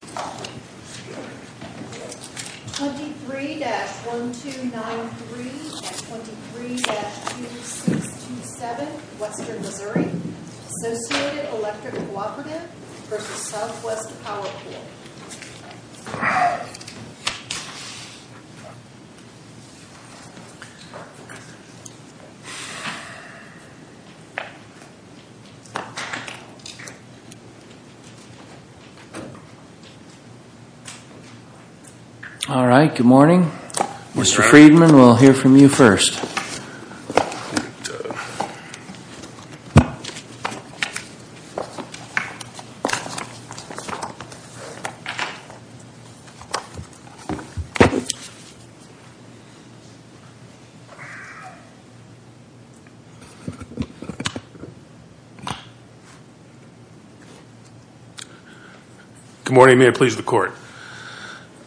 23-1293 and 23-2627, Western Missouri, Associated Electric Cooperative, v. Southwest Power Pool All right, good morning. Mr. Friedman, we'll hear from you first. Good morning, may it please the court.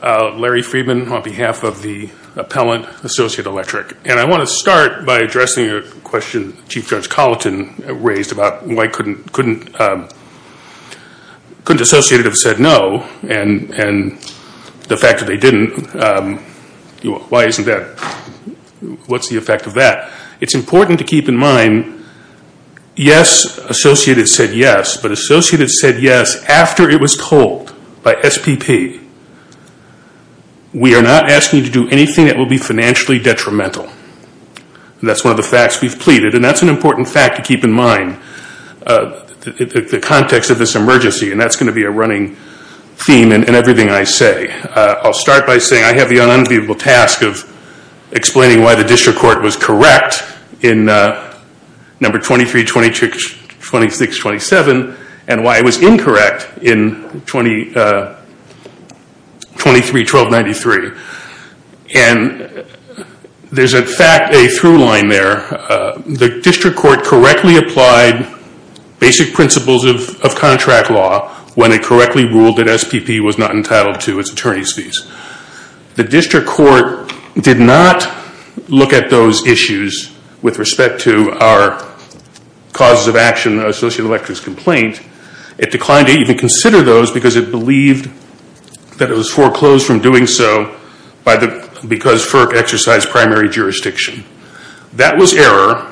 Larry Friedman on behalf of the appellant, Associated Electric Cooperative, and I want to start by addressing a question Chief Judge Colleton raised about why couldn't Associated have said no, and the fact that they didn't, what's the effect of that? It's important to keep in mind, yes, Associated said yes, but Associated said yes after it was told by SPP. We are not asking you to do anything that will be detrimental. That's one of the facts we've pleaded, and that's an important fact to keep in mind, the context of this emergency, and that's going to be a running theme in everything I say. I'll start by saying I have the unenviable task of explaining why the district court was correct in No. 23-2627, and why it was incorrect in 23-1293. There's in fact a through line there. The district court correctly applied basic principles of contract law when it correctly ruled that SPP was not entitled to its attorney's fees. The district court did not look at those issues with respect to our causes of action, the Associated Electric's complaint. It declined to even consider those because it believed that it was foreclosed from doing so because FERC exercised primary jurisdiction. That was error,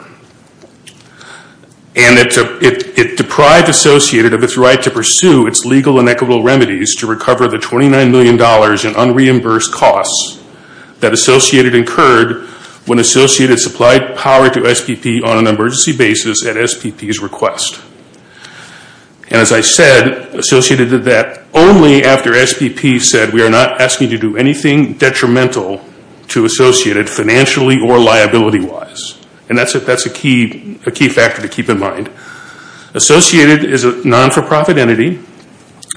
and it deprived Associated of its right to pursue its legal and equitable remedies to recover the $29 million in unreimbursed costs that Associated incurred when Associated supplied power to SPP on an emergency basis at SPP's request. As I said, Associated did that only after SPP said we are not asking to do anything detrimental to Associated financially or liability-wise. That's a key factor to keep in mind. Associated is a non-for-profit entity.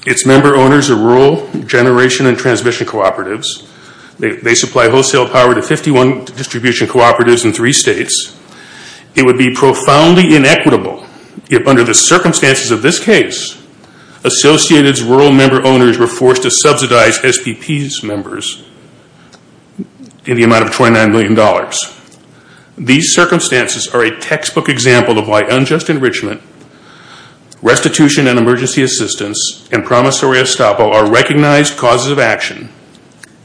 Its member owners are rural generation and transmission cooperatives. They supply wholesale power to 51 distribution cooperatives in three states. It would be profoundly inequitable if under the circumstances of this case, Associated's rural member owners were forced to subsidize SPP's members in the amount of $29 million. These circumstances are a textbook example of why unjust enrichment, restitution and action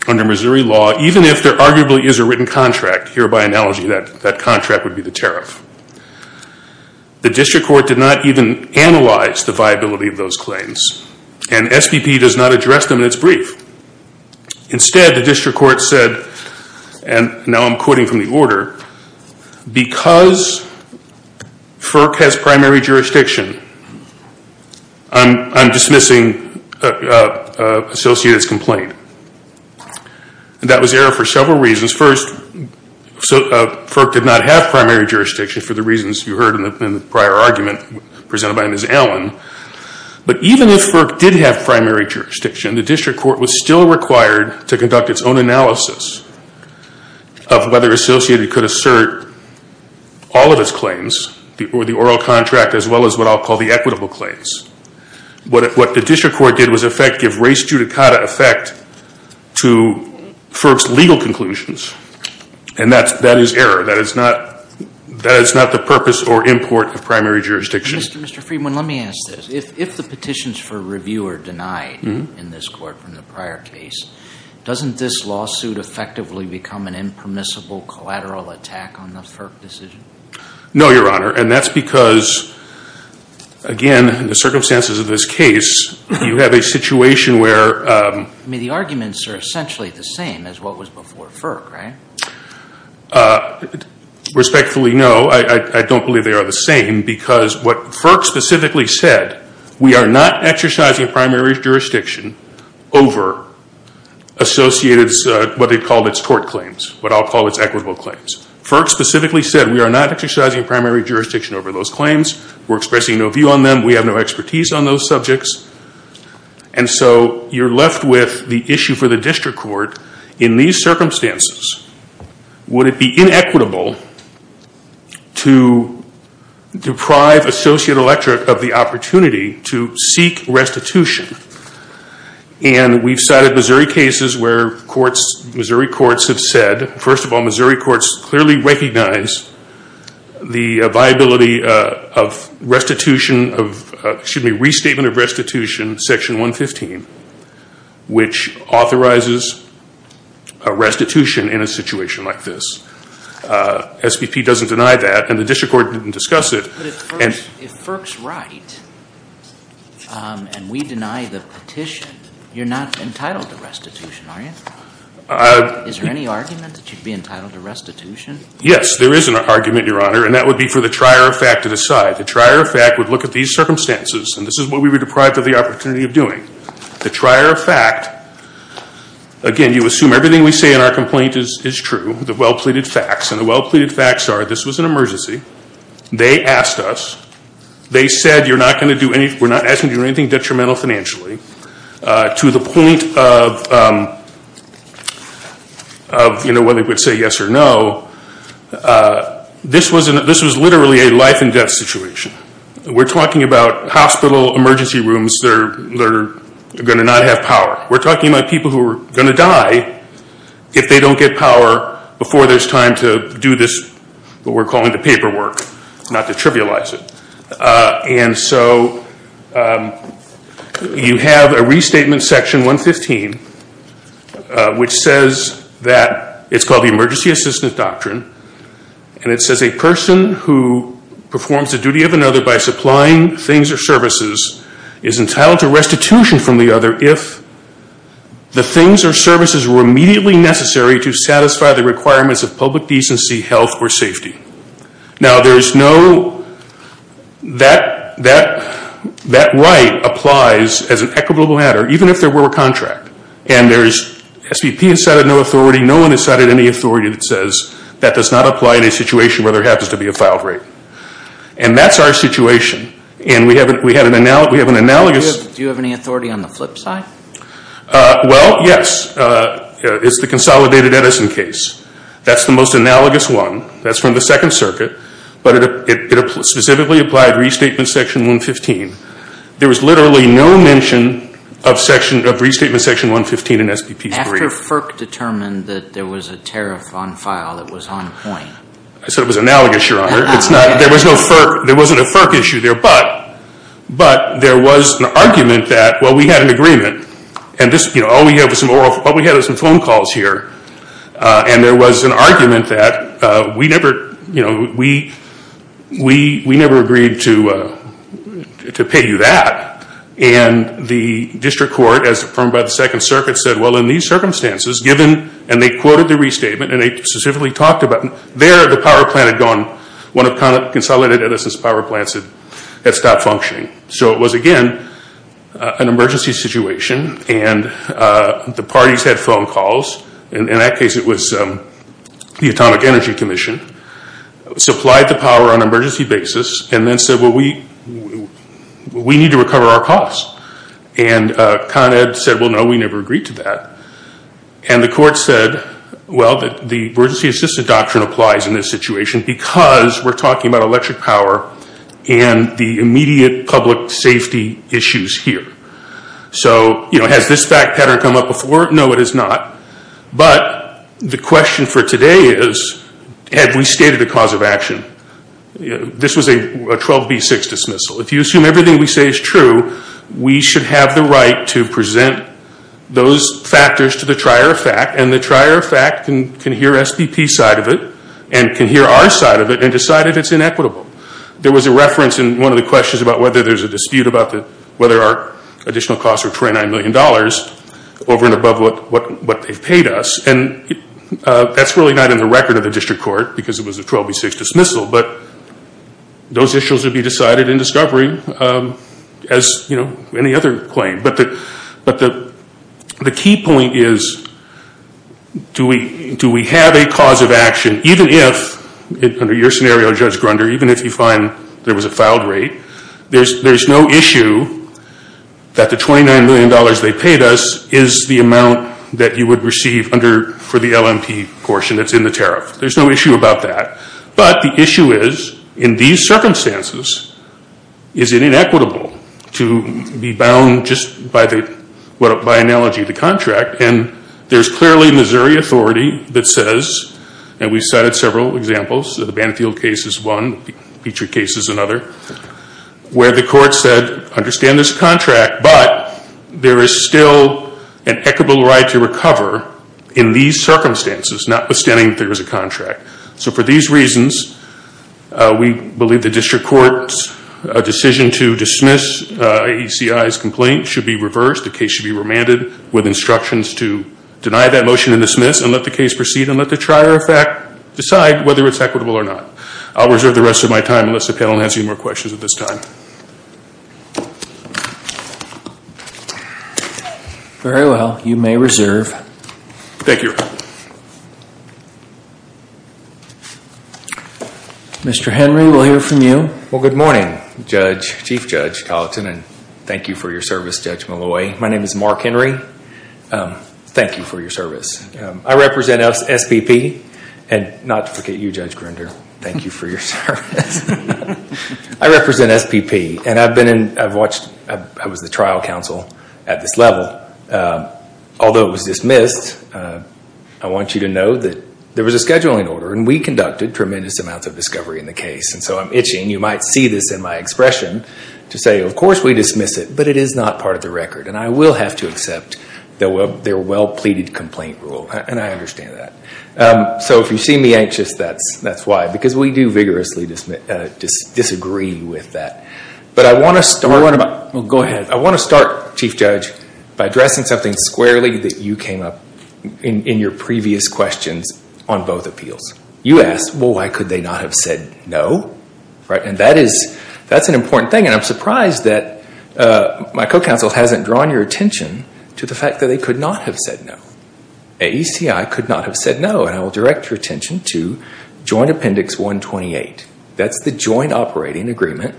under Missouri law, even if there arguably is a written contract, here by analogy that contract would be the tariff. The district court did not even analyze the viability of those claims, and SPP does not address them in its brief. Instead, the district court said, and now I'm quoting from the order, because FERC has primary jurisdiction, I'm going to point. That was error for several reasons. First, FERC did not have primary jurisdiction for the reasons you heard in the prior argument presented by Ms. Allen. But even if FERC did have primary jurisdiction, the district court was still required to conduct its own analysis of whether Associated could assert all of its claims, the oral contract as well as what I'll call the equitable claims. What the district court did was give race to FERC's legal conclusions. And that is error. That is not the purpose or import of primary jurisdiction. Mr. Friedman, let me ask this. If the petitions for review are denied in this court from the prior case, doesn't this lawsuit effectively become an impermissible collateral attack on the FERC decision? No, Your Honor. And that's because, again, in the circumstances of this case, you have a situation where I mean, the arguments are essentially the same as what was before FERC, right? Respectfully, no. I don't believe they are the same because what FERC specifically said, we are not exercising primary jurisdiction over Associated's, what they call its court claims, what I'll call its equitable claims. FERC specifically said we are not exercising primary jurisdiction over those claims. We're expressing no view on them. We have no expertise on those subjects. And so you're left with the issue for the district court, in these circumstances, would it be inequitable to deprive Associate Electric of the opportunity to seek restitution? And we've cited Missouri cases where Missouri courts have said, first of all, Missouri courts clearly recognize the viability of restitution of, excuse me, restatement of restitution, section 115, which authorizes a restitution in a situation like this. SVP doesn't deny that, and the district court didn't discuss it. But if FERC's right, and we deny the petition, you're not entitled to restitution, are you? Is there any argument that you'd be entitled to restitution? Yes, there is an argument, Your Honor, and that would be for the trier of fact to decide. The trier of fact would look at these circumstances, and this is what we were deprived of the opportunity of doing. The trier of fact, again, you assume everything we say in our complaint is true, the well-pleaded facts, and the well-pleaded facts are this was an emergency, they asked us, they said you're not going to do anything, we're not asking you to do anything detrimental financially to the point of, you know, whether it would say yes or no, this was literally a life and death situation. We're talking about hospital emergency rooms that are going to not have power. We're talking about people who are going to die if they don't get power before there's time to do this, what we're calling the paperwork, not to trivialize it. And so you have a restatement section 115, which says that, it's called the Emergency Assistance Doctrine, and it says a person who performs the duty of another by supplying things or services is entitled to restitution from the other if the things or services were to satisfy the requirements of public decency, health, or safety. Now there's no, that right applies as an equitable matter, even if there were a contract, and there's, SVP has cited no authority, no one has cited any authority that says that does not apply in a situation where there happens to be a filed rape. And that's our situation, and we have an analogous case. Do you have any authority on the flip side? Well, yes. It's the Consolidated Edison case. That's the most analogous one. That's from the Second Circuit, but it specifically applied restatement section 115. There was literally no mention of restatement section 115 in SVP's brief. After FERC determined that there was a tariff on file that was on point. I said it was analogous, Your Honor. There wasn't a FERC issue there, but there was an argument that, well, we had an agreement, and this, you know, all we had was some phone calls here, and there was an argument that we never, you know, we never agreed to pay you that. And the District Court, as affirmed by the Second Circuit, said, well, in these circumstances, given, and they quoted the restatement, and they specifically talked about, there the power plant had gone, one of Consolidated Edison's power plants had been in an emergency situation, and the parties had phone calls, and in that case it was the Atomic Energy Commission, supplied the power on an emergency basis, and then said, well, we need to recover our costs. And Con Ed said, well, no, we never agreed to that. And the court said, well, the emergency assistance doctrine applies in this situation because we're talking about electric power and the immediate public safety issues here. So, you know, has this fact pattern come up before? No, it has not. But the question for today is, have we stated a cause of action? This was a 12B6 dismissal. If you assume everything we say is true, we should have the right to present those factors to the trier of fact, and the trier of fact can hear SDP's side of it, and can hear our side of it, and decide if it's inequitable. There was a reference in one of the questions about whether there's a dispute about whether our additional costs are $29 million over and above what they've paid us, and that's really not in the record of the district court because it was a 12B6 dismissal, but those issues would be decided in discovery as, you know, any other claim. But the key point is, do we have a cause of action, even if, under your scenario, Judge Grunder, even if you find there was a fouled rate, there's no issue that the $29 million they paid us is the amount that you would receive under, for the LMP portion that's in the tariff. There's no issue about that. But the issue is, in these circumstances, is it inequitable to be bound just by analogy of the contract, and there's clearly Missouri authority that says, and we've cited several examples, the Banfield case is one, Petrie case is another, where the court said, understand this contract, but there is still an equitable right to recover in these circumstances, notwithstanding that there is a contract. So for these reasons, we believe the district court's decision to dismiss AECI's complaint should be reversed. The case should be remanded with instructions to deny that motion and dismiss, and let the case proceed, and let the trier of fact decide whether it's equitable or not. I'll reserve the rest of my time, unless the panel has any more questions at this time. Very well. You may reserve. Mr. Henry, we'll hear from you. Well, good morning, Judge, Chief Judge Colleton, and thank you for your service, Judge Malloy. My name is Mark Henry. Thank you for your service. I represent SPP, and not to forget you, Judge Grinder. Thank you for your service. I represent SPP, and I've been in, I've watched, I was the trial counsel at this level. Although it was dismissed, I want you to know that there was a scheduling order, and we conducted tremendous amounts of discovery in the case, and so I'm itching, you might see this in my expression, to say, of course we dismiss it, but it is not part of the record, and I will have to accept their well-pleaded complaint rule, and I understand that. So if you see me anxious, that's why, because we do vigorously disagree with that. But I want to start, Chief Judge, by addressing something squarely that you came up in your previous questions on both appeals. You asked, well, why could they not have said no? And that is, that's an important thing, and I'm surprised that my co-counsel hasn't drawn your attention to the fact that they could not have said no. AECI could not have said no, and I will direct your attention to Joint Appendix 128. That's the joint operating agreement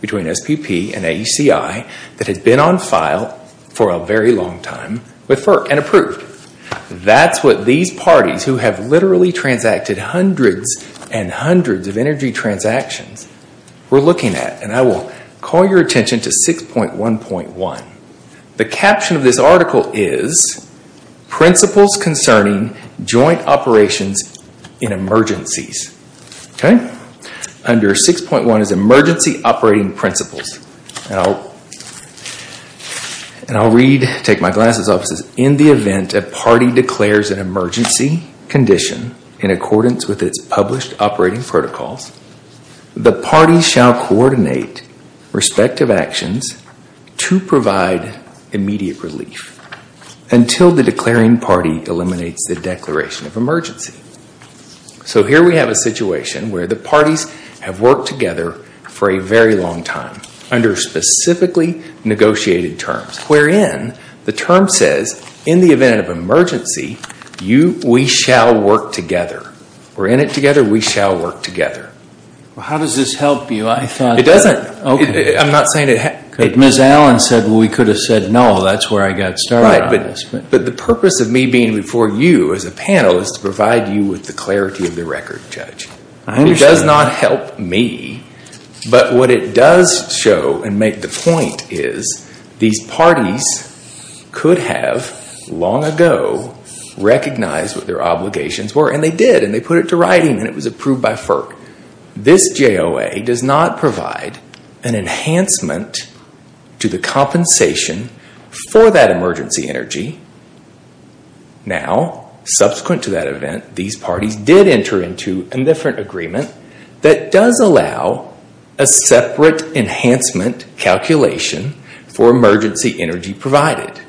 between SPP and AECI that had been on file for a very long time and approved. That's what these parties who have literally transacted hundreds and hundreds of energy transactions were looking at, and I will call your attention to 6.1.1. The caption of this article is, Principles Concerning Joint Operations in Emergencies. Okay? Under 6.1 is emergency operating principles. And I'll read, take my glasses off, it says, in the event a party declares an emergency condition in accordance with its published operating protocols, the party shall coordinate respective actions to provide immediate relief until the declaring party eliminates the declaration of emergency. So here we have a situation where the parties have worked together for a very long time under specifically negotiated terms, wherein the term says, in the event of an emergency, we shall work together. We're in it together, we shall work together. Well, how does this help you? I thought that... It doesn't. I'm not saying it... Ms. Allen said, well, we could have said no. That's where I got started on this. Right, but the purpose of me being before you as a panel is to provide you with the information. It doesn't help me, but what it does show and make the point is, these parties could have long ago recognized what their obligations were, and they did, and they put it to writing, and it was approved by FERC. This JOA does not provide an enhancement to the compensation for that emergency energy. Now, subsequent to that event, these parties did enter into a different agreement that does allow a separate enhancement calculation for emergency energy provided.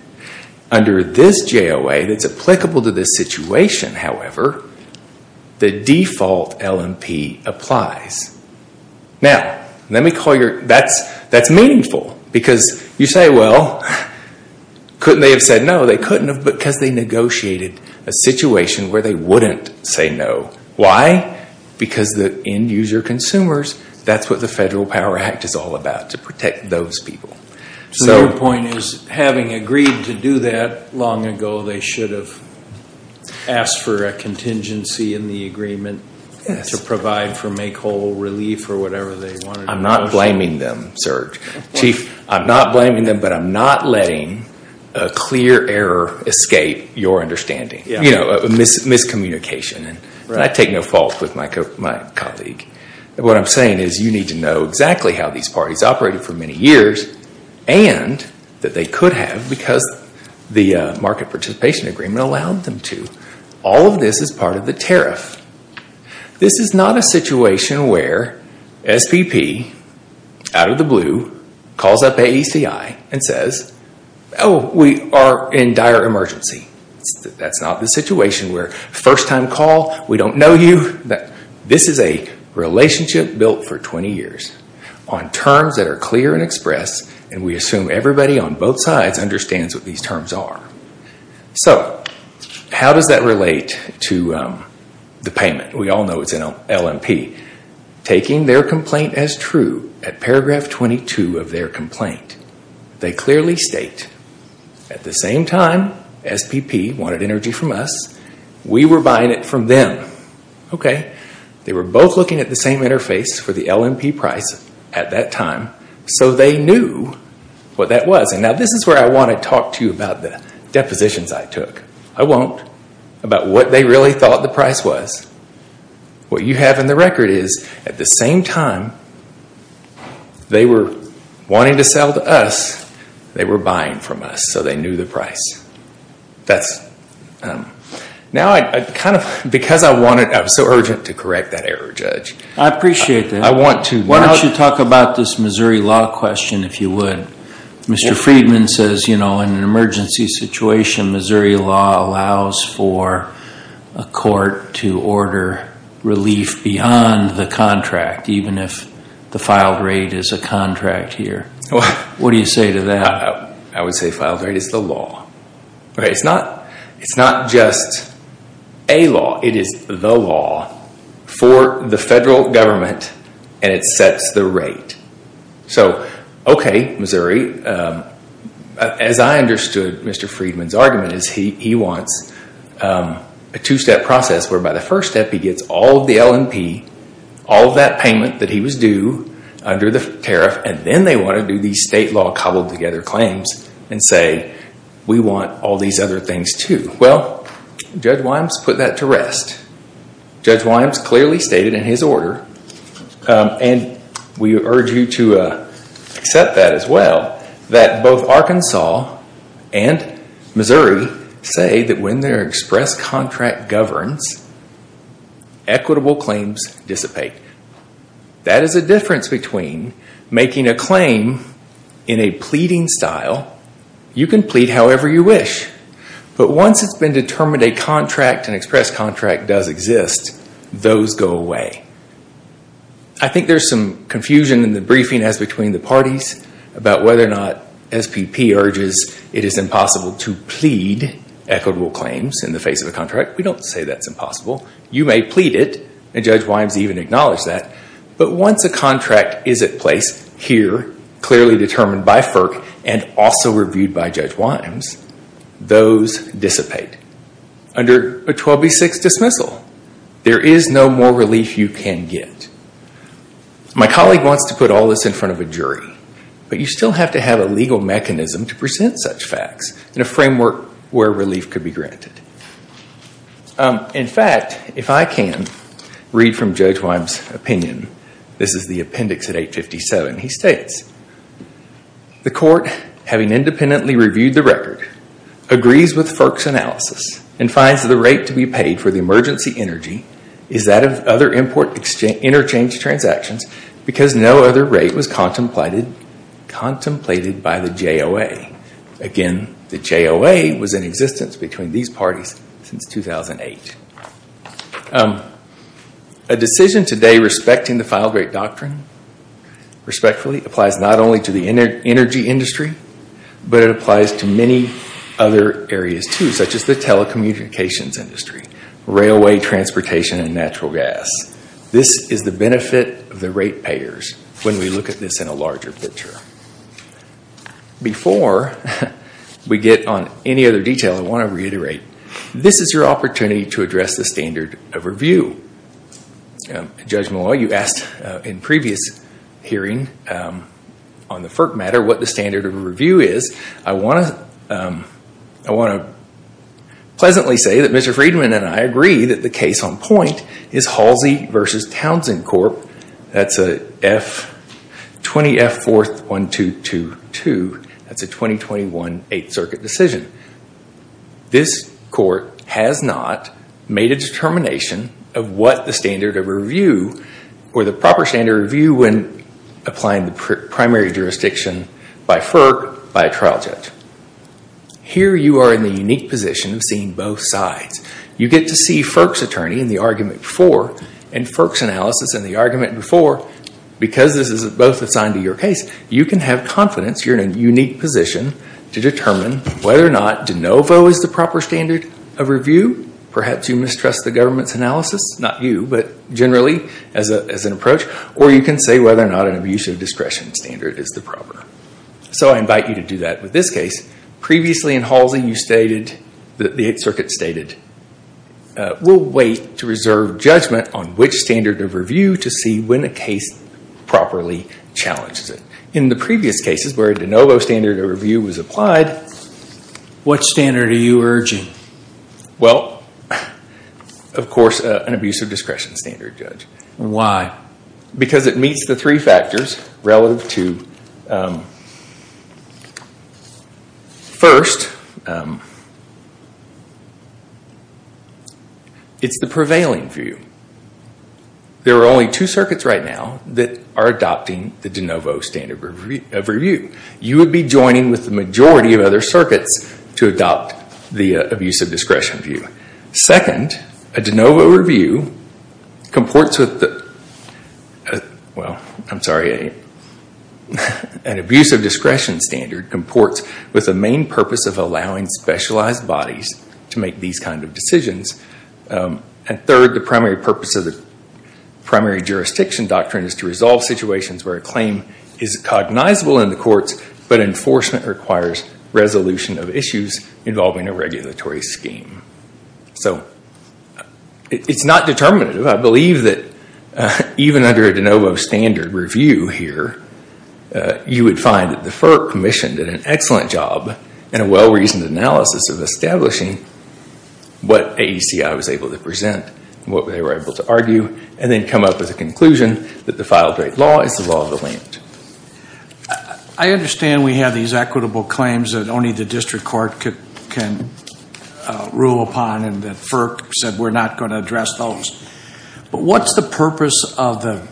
Under this JOA that's applicable to this situation, however, the default LMP applies. Now, let me call your... That's meaningful, because you say, well, couldn't they have said no? They couldn't have, because they negotiated a situation where they wouldn't say no. Why? Because the end user consumers, that's what the Federal Power Act is all about, to protect those people. So your point is, having agreed to do that long ago, they should have asked for a contingency in the agreement to provide for make whole relief or whatever they wanted. I'm not blaming them, Serge. Chief, I'm not blaming them, but I'm not letting a clear error escape your understanding, a miscommunication. I take no fault with my colleague. What I'm saying is, you need to know exactly how these parties operated for many years, and that they could have, because the market participation agreement allowed them to. All of this is part of the tariff. This is not a situation where SPP, out of the blue, calls up AECI and says, oh, we are in dire emergency. That's not the situation where first-time call, we don't know you. This is a relationship built for 20 years on terms that are clear and expressed, and we assume everybody on both sides understands what these terms are. So, how does that relate to the payment? We all know it's an LMP. Taking their complaint as true, at paragraph 22 of their complaint, they clearly state, at the same time SPP wanted energy from us, we were buying it from them. They were both looking at the same interface for the LMP price at that time, so they knew what that was. Now, this is where I want to talk to you about the depositions I took. I won't, about what they really thought the price was. What you have in the record is, at the same time they were wanting to sell to us, they were buying from us, so they knew the price. Because I wanted, I was so urgent to correct that error, Judge. I appreciate that. Why don't you talk about this Missouri law question, if you would. Mr. Friedman says, you know, in an emergency situation, Missouri law allows for a court to order relief beyond the contract, even if the filed rate is a contract here. What do you say to that? I would say filed rate is the law. It's not just a law, it is the law for the federal government, and it sets the rate. So, okay Missouri, as I understood Mr. Friedman's argument, he wants a two-step process where by the first step he gets all of the LMP, all of that payment that he was due under the tariff, and then they want to do these state law cobbled together claims and say, we want all these other things too. Well, Judge Wyams put that to rest. Judge Wyams clearly stated in his order, and we urge you to accept that as well, that both Arkansas and Missouri say that when their express contract governs, equitable claims dissipate. That is the difference between making a claim in a pleading style, you can plead however you wish, but once it's been determined a contract, an express contract does exist, those go away. I think there's some confusion in the briefing as between the parties about whether or not SPP urges it is impossible to plead equitable claims in the face of a contract. We don't say that's impossible. You may plead it, and Judge Wyams even acknowledged that, but once a contract is at place here, clearly determined by FERC and also reviewed by Judge Wyams, those dissipate under a 12B6 dismissal. There is no more relief you can get. My colleague wants to put all this in front of a jury, but you still have to have a legal mechanism to present such facts in a framework where relief could be granted. In fact, if I can read from Judge Wyams' opinion, this is the appendix at 857. He states, the court, having independently reviewed the record, agrees with FERC's analysis and finds the rate to be paid for the emergency energy is that of other import interchange transactions because no other rate was contemplated by the JOA. Again, the JOA was in existence between these parties since 2008. A decision today respecting the final great doctrine, respectfully, applies not only to the energy industry, but it applies to many other areas too, such as the telecommunications industry, railway, transportation, and natural gas. This is the benefit of the rate payers when we look at this in a larger picture. Before we get on any other detail, I want to reiterate, this is your opportunity to address the standard of review. Judge Malloy, you asked in a previous hearing on the FERC matter what the standard of review is. I want to pleasantly say that Mr. Friedman and I agree that the case on point is Halsey v. Townsend Corp. That's a 20F41222. That's a 2021 8th Circuit decision. This court has not made a determination of what the standard of review or the proper standard of review when applying the primary jurisdiction by FERC by a trial judge. Here you are in the unique position of seeing both sides. You get to see FERC's attorney in the argument before and FERC's analysis in the argument before. Because this is both assigned to your case, you can have confidence you're in a unique position to determine whether or not de novo is the proper standard of review. Perhaps you mistrust the government's analysis, not you, but generally as an approach. Or you can say whether or not an abuse of discretion standard is the proper. So I invite you to do that with this case. Previously in Halsey, you stated, the 8th Circuit stated, we'll wait to reserve judgment on which standard of review to see when a case properly challenges it. In the previous cases where a de novo standard of review was applied. What standard are you urging? Well, of course, an abuse of discretion standard, Judge. Why? Because it meets the three factors relative to... First, it's the prevailing view. There are only two circuits right now that are adopting the de novo standard of review. You would be joining with the majority of other circuits to adopt the abuse of discretion view. Second, a de novo review comports with the... Well, I'm sorry. An abuse of discretion standard comports with the main purpose of allowing specialized bodies to make these kinds of decisions. And third, the primary purpose of the primary jurisdiction doctrine is to resolve situations where a claim is cognizable in the courts, but enforcement requires resolution of issues involving a regulatory scheme. So it's not determinative. I believe that even under a de novo standard review here, you would find that the FERC commission did an excellent job in a well-reasoned analysis of establishing what AECI was able to present, what they were able to argue, and then come up with a conclusion that the final great law is the law of the land. I understand we have these equitable claims that only the district court can rule upon and that FERC said we're not going to address those. But what's the purpose of the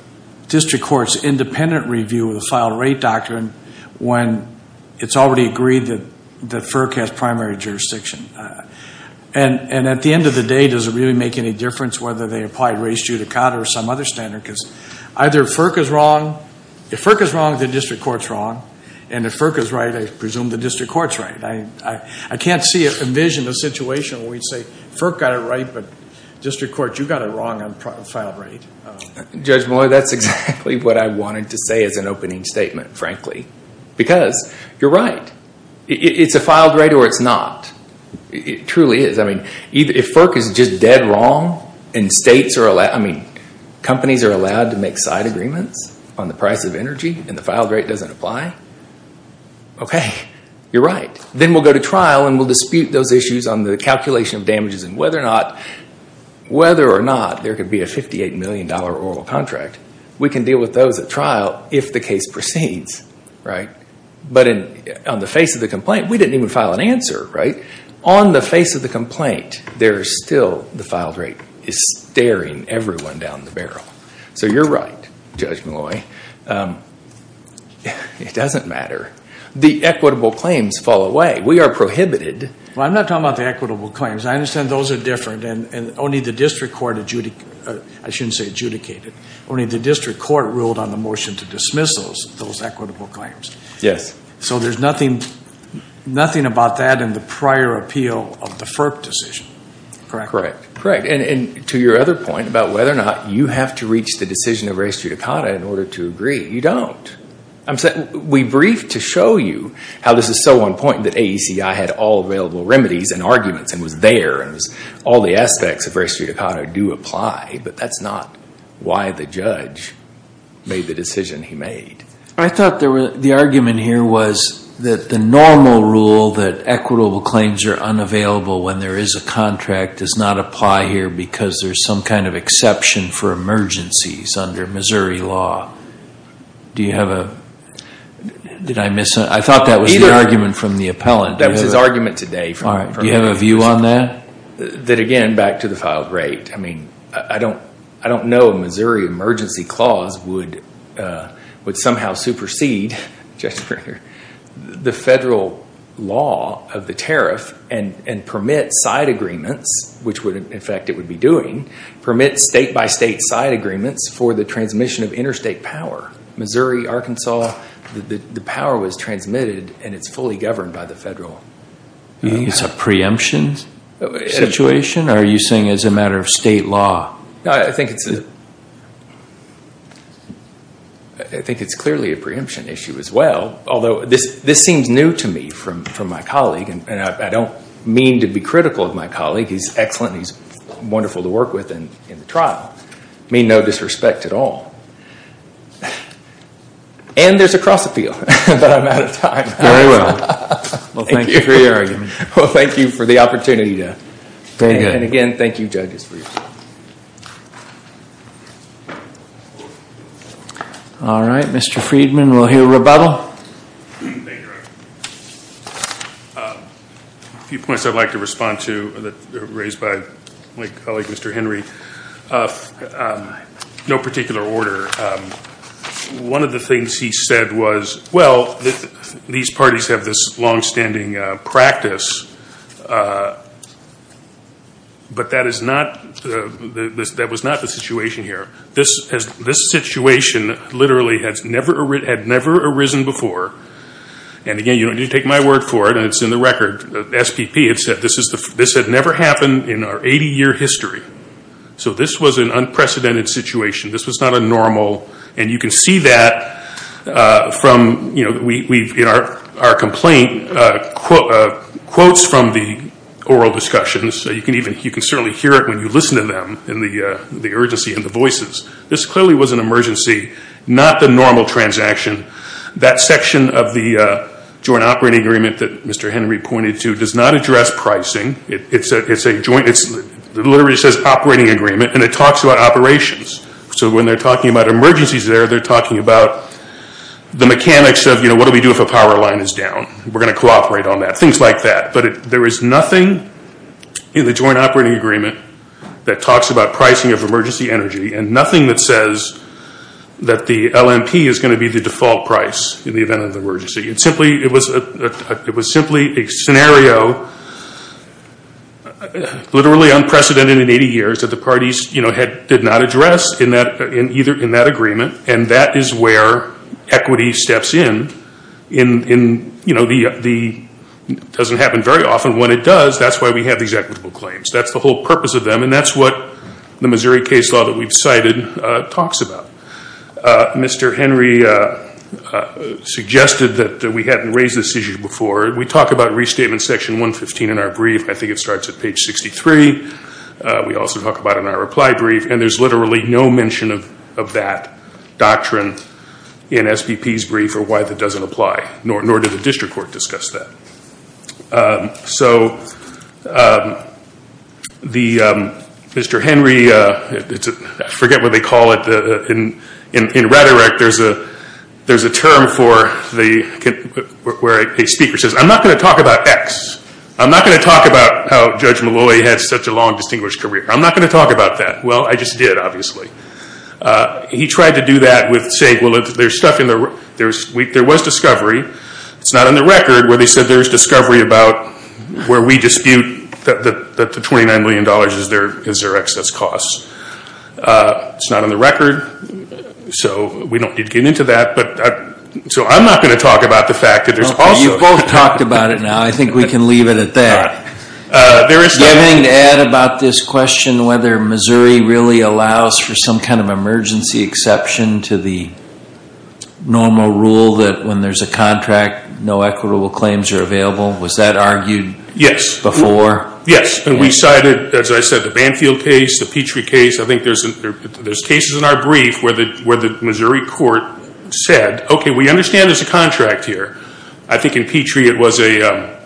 district court's independent review of the file rate doctrine when it's already agreed that FERC has primary jurisdiction? And at the end of the day, does it really make any difference whether they apply race judicata or some other standard? Because either FERC is wrong. If FERC is wrong, the district court's wrong. And if FERC is right, I presume the district court's right. I can't envision a situation where we'd say FERC got it right, but district court, you got it wrong on file rate. Judge Malloy, that's exactly what I wanted to say as an opening statement, frankly, because you're right. It's a filed rate or it's not. It truly is. If FERC is just dead wrong and companies are allowed to make side agreements on the price of energy and the filed rate doesn't apply, okay, you're right. Then we'll go to trial and we'll dispute those issues on the calculation of damages and whether or not there could be a $58 million oral contract. We can deal with those at trial if the case proceeds. But on the face of the complaint, we didn't even file an answer. Right? On the face of the complaint, there is still the filed rate is staring everyone down the barrel. So you're right, Judge Malloy. It doesn't matter. The equitable claims fall away. We are prohibited. Well, I'm not talking about the equitable claims. I understand those are different and only the district court, I shouldn't say adjudicated, only the district court ruled on the motion to dismiss those equitable claims. Yes. So there's nothing about that in the prior appeal of the FERC decision. Correct? Correct. And to your other point about whether or not you have to reach the decision of race judicata in order to agree. You don't. We briefed to show you how this is so on point that AECI had all available remedies and arguments and was there and all the aspects of race judicata do apply, but that's not why the judge made the decision he made. I thought the argument here was that the normal rule that equitable claims are unavailable when there is a contract does not apply here because there's some kind of exception for emergencies under Missouri law. Do you have a, did I miss, I thought that was the argument from the appellant. That was his argument today. Do you have a view on that? That again, back to the filed rate. I don't know a Missouri emergency clause would somehow supersede the federal law of the tariff and permit side agreements, which in fact it would be doing, permit state by state side agreements for the transmission of interstate power. Missouri, Arkansas, the power was transmitted and it's fully governed by the federal. You think it's a preemption situation? Or are you saying it's a matter of state law? I think it's clearly a preemption issue as well, although this seems new to me from my colleague and I don't mean to be critical of my colleague. He's excellent. He's wonderful to work with in the trial. I mean no disrespect at all. And there's a cross appeal, but I'm out of time. Very well. Well, thank you for your argument. And again, thank you judges for your time. All right. Mr. Friedman, we'll hear rebuttal. A few points I'd like to respond to raised by my colleague, Mr. Henry. No particular order. One of the things he said was, well, these parties have this longstanding practice, but that was not the situation here. This situation literally had never arisen before. And again, you don't need to take my word for it. It's in the record. SPP had said this had never happened in our 80-year history. So this was an unprecedented situation. This was not a normal. And you can see that from our complaint quotes from the oral discussions. You can certainly hear it when you listen to them in the urgency and the voices. This clearly was an emergency, not the normal transaction. That section of the joint operating agreement that Mr. Henry pointed to does not address pricing. It literally says operating agreement, and it talks about operations. So when they're talking about emergencies there, they're talking about the mechanics of, you know, what do we do if a power line is down? We're going to cooperate on that, things like that. But there is nothing in the joint operating agreement that talks about pricing of emergency energy and nothing that says that the LNP is going to be the default price in the event of an emergency. It was simply a scenario, literally unprecedented in 80 years, that the parties did not address in that agreement. And that is where equity steps in. It doesn't happen very often. When it does, that's why we have these equitable claims. That's the whole purpose of them, and that's what the Missouri case law that we've cited talks about. Mr. Henry suggested that we hadn't raised this issue before. We talk about restatement section 115 in our brief. I think it starts at page 63. We also talk about it in our reply brief, and there's literally no mention of that doctrine in SBP's brief or why that doesn't apply, nor did the district court discuss that. So Mr. Henry, I forget what they call it. In rhetoric, there's a term where a speaker says, I'm not going to talk about X. I'm not going to talk about how Judge Malloy had such a long, distinguished career. I'm not going to talk about that. Well, I just did, obviously. He tried to do that with saying, well, there was discovery. It's not on the record where they said there was discovery about where we dispute that the $29 million is their excess costs. It's not on the record, so we don't need to get into that. So I'm not going to talk about the fact that there's also Well, you've both talked about it now. I think we can leave it at that. Do you have anything to add about this question, whether Missouri really allows for some kind of emergency exception to the normal rule that when there's a contract, no equitable claims are available? Was that argued before? Yes, and we cited, as I said, the Banfield case, the Petrie case. I think there's cases in our brief where the Missouri court said, okay, we understand there's a contract here. I think in Petrie, it was a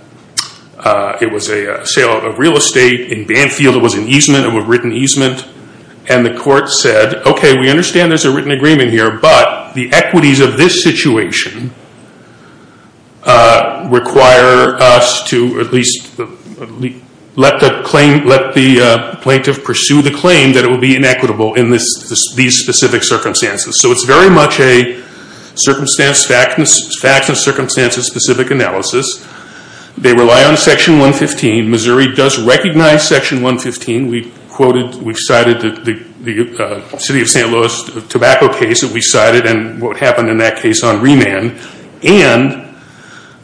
sale of real estate. In Banfield, it was an easement, a written easement. And the court said, okay, we understand there's a written agreement here, but the equities of this situation require us to at least let the plaintiff pursue the claim that it would be inequitable in these specific circumstances. So it's very much a facts and circumstances specific analysis. They rely on Section 115. Missouri does recognize Section 115. We've cited the city of St. Louis tobacco case that we cited and what happened in that case on remand. And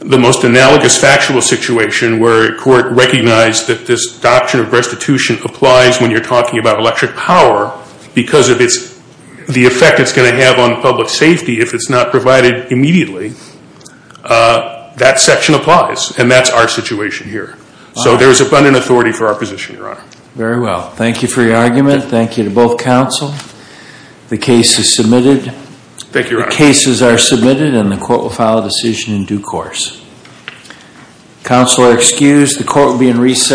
the most analogous factual situation where court recognized that this doctrine of restitution applies when you're talking about electric power because of the effect it's going to have on public safety if it's not provided immediately, that section applies, and that's our situation here. So there's abundant authority for our position, Your Honor. Very well. Thank you for your argument. Thank you to both counsel. The case is submitted. Thank you, Your Honor. The cases are submitted, and the court will file a decision in due course. Counsel are excused. The court will be in recess.